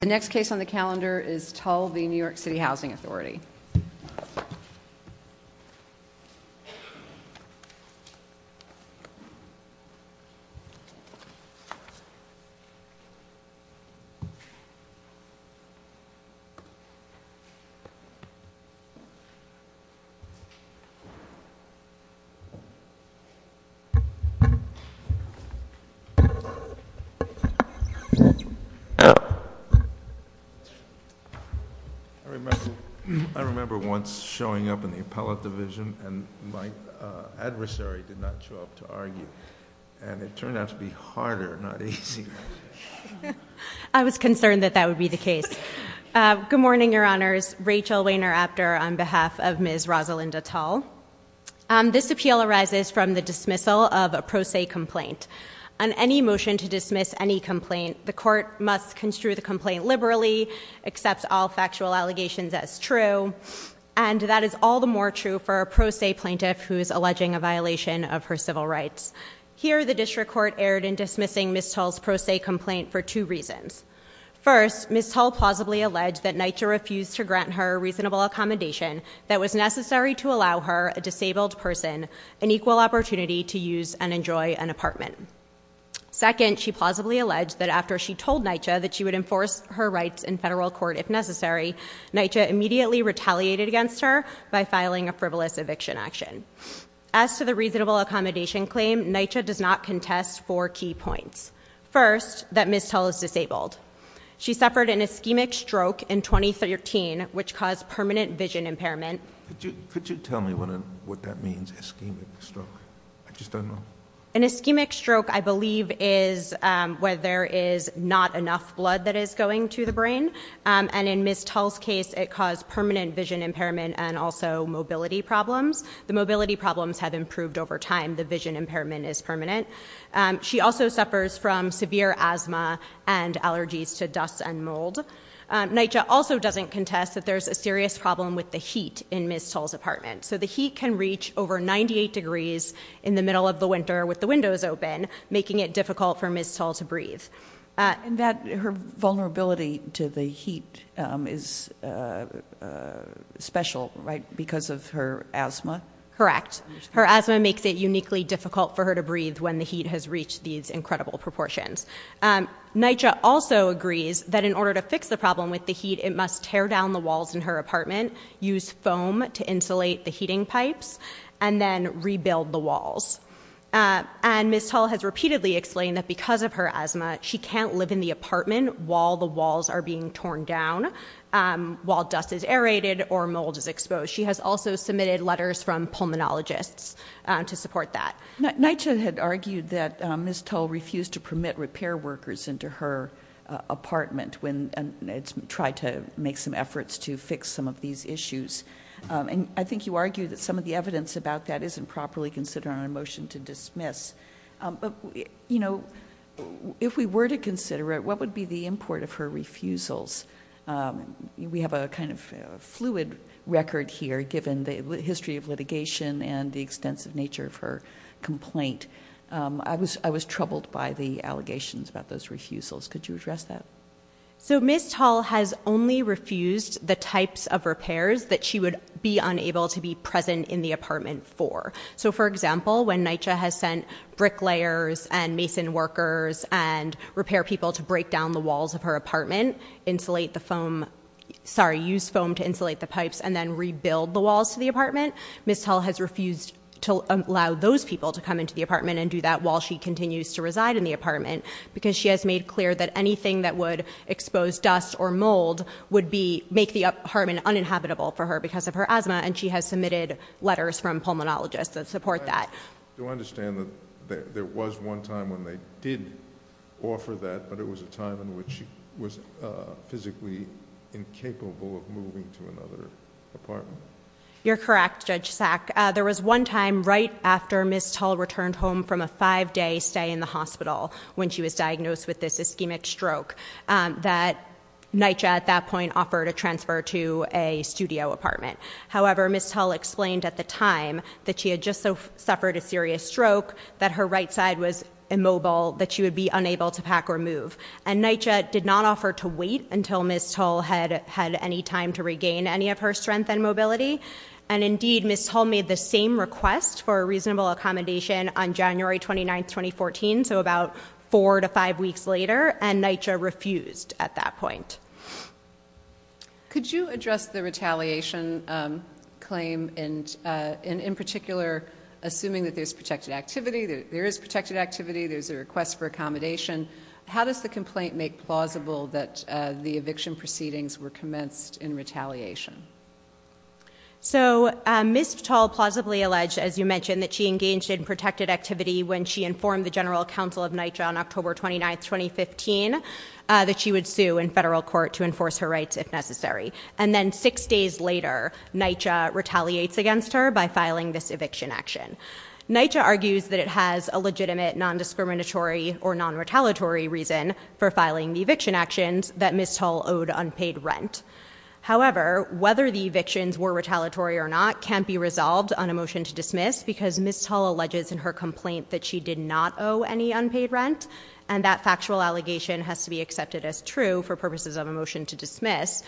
The next case on the calendar is Tull v. New York City Housing Authority. I remember once showing up in the appellate division, and my adversary did not show up to argue. And it turned out to be harder, not easier. I was concerned that that would be the case. Good morning, Your Honors. Rachel Wehner-Apter on behalf of Ms. Rosalinda Tull. This appeal arises from the dismissal of a pro se complaint. On any motion to dismiss any complaint, the court must construe the complaint liberally, accept all factual allegations as true, and that is all the more true for a pro se plaintiff who is alleging a violation of her civil rights. Here, the district court erred in dismissing Ms. Tull's pro se complaint for two reasons. First, Ms. Tull plausibly alleged that NYCHA refused to grant her a reasonable accommodation that was necessary to allow her, a disabled person, an equal opportunity to use and enjoy an apartment. Second, she plausibly alleged that after she told NYCHA that she would enforce her rights in federal court if necessary, NYCHA immediately retaliated against her by filing a frivolous eviction action. As to the reasonable accommodation claim, NYCHA does not contest four key points. First, that Ms. Tull is disabled. She suffered an ischemic stroke in 2013, which caused permanent vision impairment. Could you tell me what that means, ischemic stroke? I just don't know. An ischemic stroke, I believe, is where there is not enough blood that is going to the brain. And in Ms. Tull's case, it caused permanent vision impairment and also mobility problems. The mobility problems have improved over time. The vision impairment is permanent. She also suffers from severe asthma and allergies to dust and mold. NYCHA also doesn't contest that there's a serious problem with the heat in Ms. Tull's apartment. So the heat can reach over 98 degrees in the middle of the winter with the windows open, making it difficult for Ms. Tull to breathe. And her vulnerability to the heat is special, right, because of her asthma? Correct. Her asthma makes it uniquely difficult for her to breathe when the heat has reached these incredible proportions. NYCHA also agrees that in order to fix the problem with the heat, it must tear down the walls in her apartment, use foam to insulate the heating pipes, and then rebuild the walls. And Ms. Tull has repeatedly explained that because of her asthma, she can't live in the apartment while the walls are being torn down, so she has also submitted letters from pulmonologists to support that. NYCHA had argued that Ms. Tull refused to permit repair workers into her apartment when it tried to make some efforts to fix some of these issues. And I think you argued that some of the evidence about that isn't properly considered on a motion to dismiss. But if we were to consider it, what would be the import of her refusals? We have a kind of fluid record here, given the history of litigation and the extensive nature of her complaint. I was troubled by the allegations about those refusals. Could you address that? So Ms. Tull has only refused the types of repairs that she would be unable to be present in the apartment for. So for example, when NYCHA has sent bricklayers and mason workers and repair people to break down the walls of her apartment, use foam to insulate the pipes and then rebuild the walls to the apartment, Ms. Tull has refused to allow those people to come into the apartment and do that while she continues to reside in the apartment because she has made clear that anything that would expose dust or mold would make the apartment uninhabitable for her because of her asthma, and she has submitted letters from pulmonologists that support that. Do I understand that there was one time when they did offer that, but it was a time in which she was physically incapable of moving to another apartment? You're correct, Judge Sack. There was one time right after Ms. Tull returned home from a five-day stay in the hospital when she was diagnosed with this ischemic stroke that NYCHA at that point offered a transfer to a studio apartment. However, Ms. Tull explained at the time that she had just suffered a serious stroke, that her right side was immobile, that she would be unable to pack or move. And NYCHA did not offer to wait until Ms. Tull had any time to regain any of her strength and mobility. And indeed, Ms. Tull made the same request for a reasonable accommodation on January 29, 2014, so about four to five weeks later, and NYCHA refused at that point. Could you address the retaliation claim, and in particular, assuming that there's protected activity? There is protected activity. There's a request for accommodation. How does the complaint make plausible that the eviction proceedings were commenced in retaliation? So Ms. Tull plausibly alleged, as you mentioned, that she engaged in protected activity when she informed the general counsel of NYCHA on October 29, 2015, that she would sue in federal court to enforce her rights if necessary. And then six days later, NYCHA retaliates against her by filing this eviction action. NYCHA argues that it has a legitimate non-discriminatory or non-retaliatory reason for filing the eviction actions that Ms. Tull owed unpaid rent. However, whether the evictions were retaliatory or not can't be resolved on a motion to dismiss because Ms. Tull alleges in her complaint that she did not owe any unpaid rent, and that factual allegation has to be accepted as true for purposes of a motion to dismiss.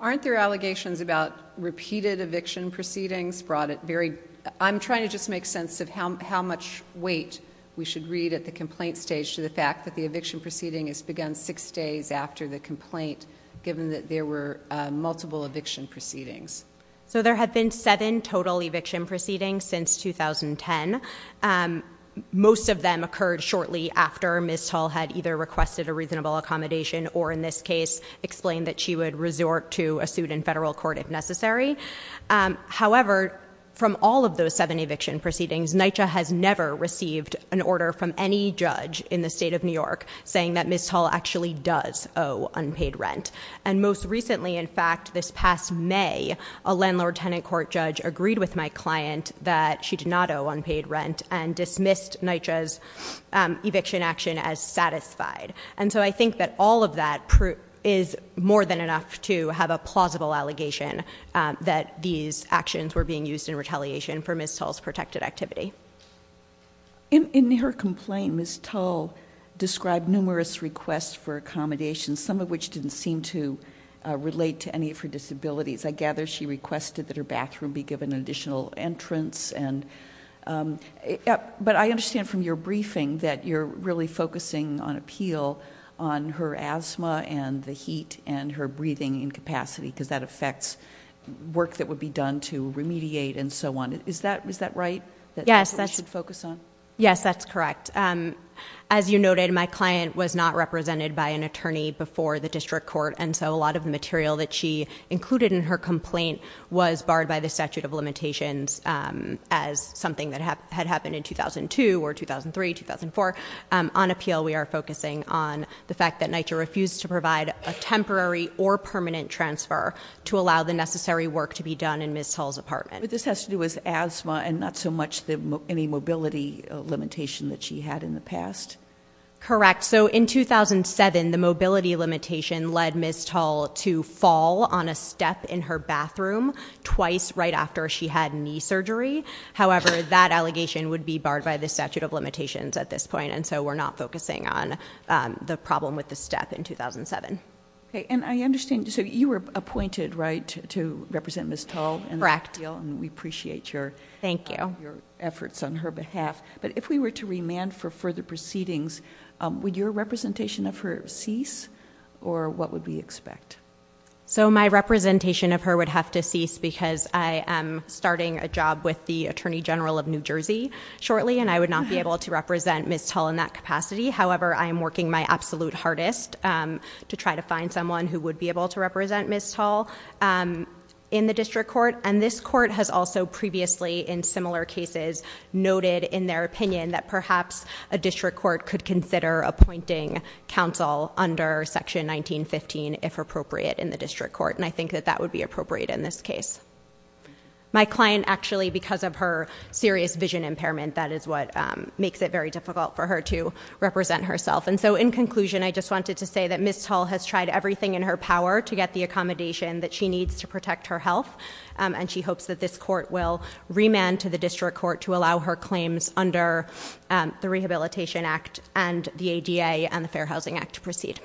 Aren't there allegations about repeated eviction proceedings brought at very— I'm trying to just make sense of how much weight we should read at the complaint stage to the fact that the eviction proceeding has begun six days after the complaint, given that there were multiple eviction proceedings. So there have been seven total eviction proceedings since 2010. Most of them occurred shortly after Ms. Tull had either requested a reasonable accommodation or, in this case, explained that she would resort to a suit in federal court if necessary. However, from all of those seven eviction proceedings, NYCHA has never received an order from any judge in the state of New York saying that Ms. Tull actually does owe unpaid rent. And most recently, in fact, this past May, a landlord-tenant court judge agreed with my client that she did not owe unpaid rent and dismissed NYCHA's eviction action as satisfied. And so I think that all of that is more than enough to have a plausible allegation that these actions were being used in retaliation for Ms. Tull's protected activity. In her complaint, Ms. Tull described numerous requests for accommodations, some of which didn't seem to relate to any of her disabilities. I gather she requested that her bathroom be given an additional entrance. But I understand from your briefing that you're really focusing on appeal on her asthma and the heat and her breathing incapacity because that affects work that would be done to remediate and so on. Is that right, that's what we should focus on? Yes, that's correct. As you noted, my client was not represented by an attorney before the district court, and so a lot of the material that she included in her complaint was barred by the statute of limitations as something that had happened in 2002 or 2003, 2004. On appeal, we are focusing on the fact that NYCHA refused to provide a temporary or permanent transfer to allow the necessary work to be done in Ms. Tull's apartment. But this has to do with asthma and not so much any mobility limitation that she had in the past? Correct. So in 2007, the mobility limitation led Ms. Tull to fall on a step in her bathroom twice right after she had knee surgery. However, that allegation would be barred by the statute of limitations at this point, and so we're not focusing on the problem with the step in 2007. And I understand, so you were appointed, right, to represent Ms. Tull? Correct. And we appreciate your- Thank you. Efforts on her behalf. But if we were to remand for further proceedings, would your representation of her cease, or what would we expect? So my representation of her would have to cease because I am starting a job with the Attorney General of New Jersey shortly, and I would not be able to represent Ms. Tull in that capacity. However, I am working my absolute hardest to try to find someone who would be able to represent Ms. Tull in the district court. And this court has also previously, in similar cases, noted in their opinion that perhaps a district court could consider appointing counsel under Section 1915 if appropriate in the district court, and I think that that would be appropriate in this case. My client actually, because of her serious vision impairment, that is what makes it very difficult for her to represent herself. And so in conclusion, I just wanted to say that Ms. Tull has tried everything in her power to get the accommodation that she needs to protect her health, and she hopes that this court will remand to the district court to allow her claims under the Rehabilitation Act and the ADA and the Fair Housing Act to proceed.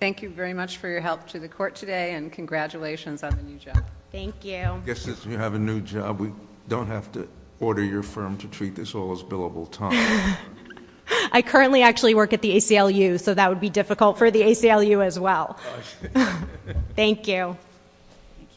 Thank you very much for your help to the court today, and congratulations on the new job. Thank you. I guess since we have a new job, we don't have to order your firm to treat this all as billable time. I currently actually work at the ACLU, so that would be difficult for the ACLU as well. Thank you. Thank you.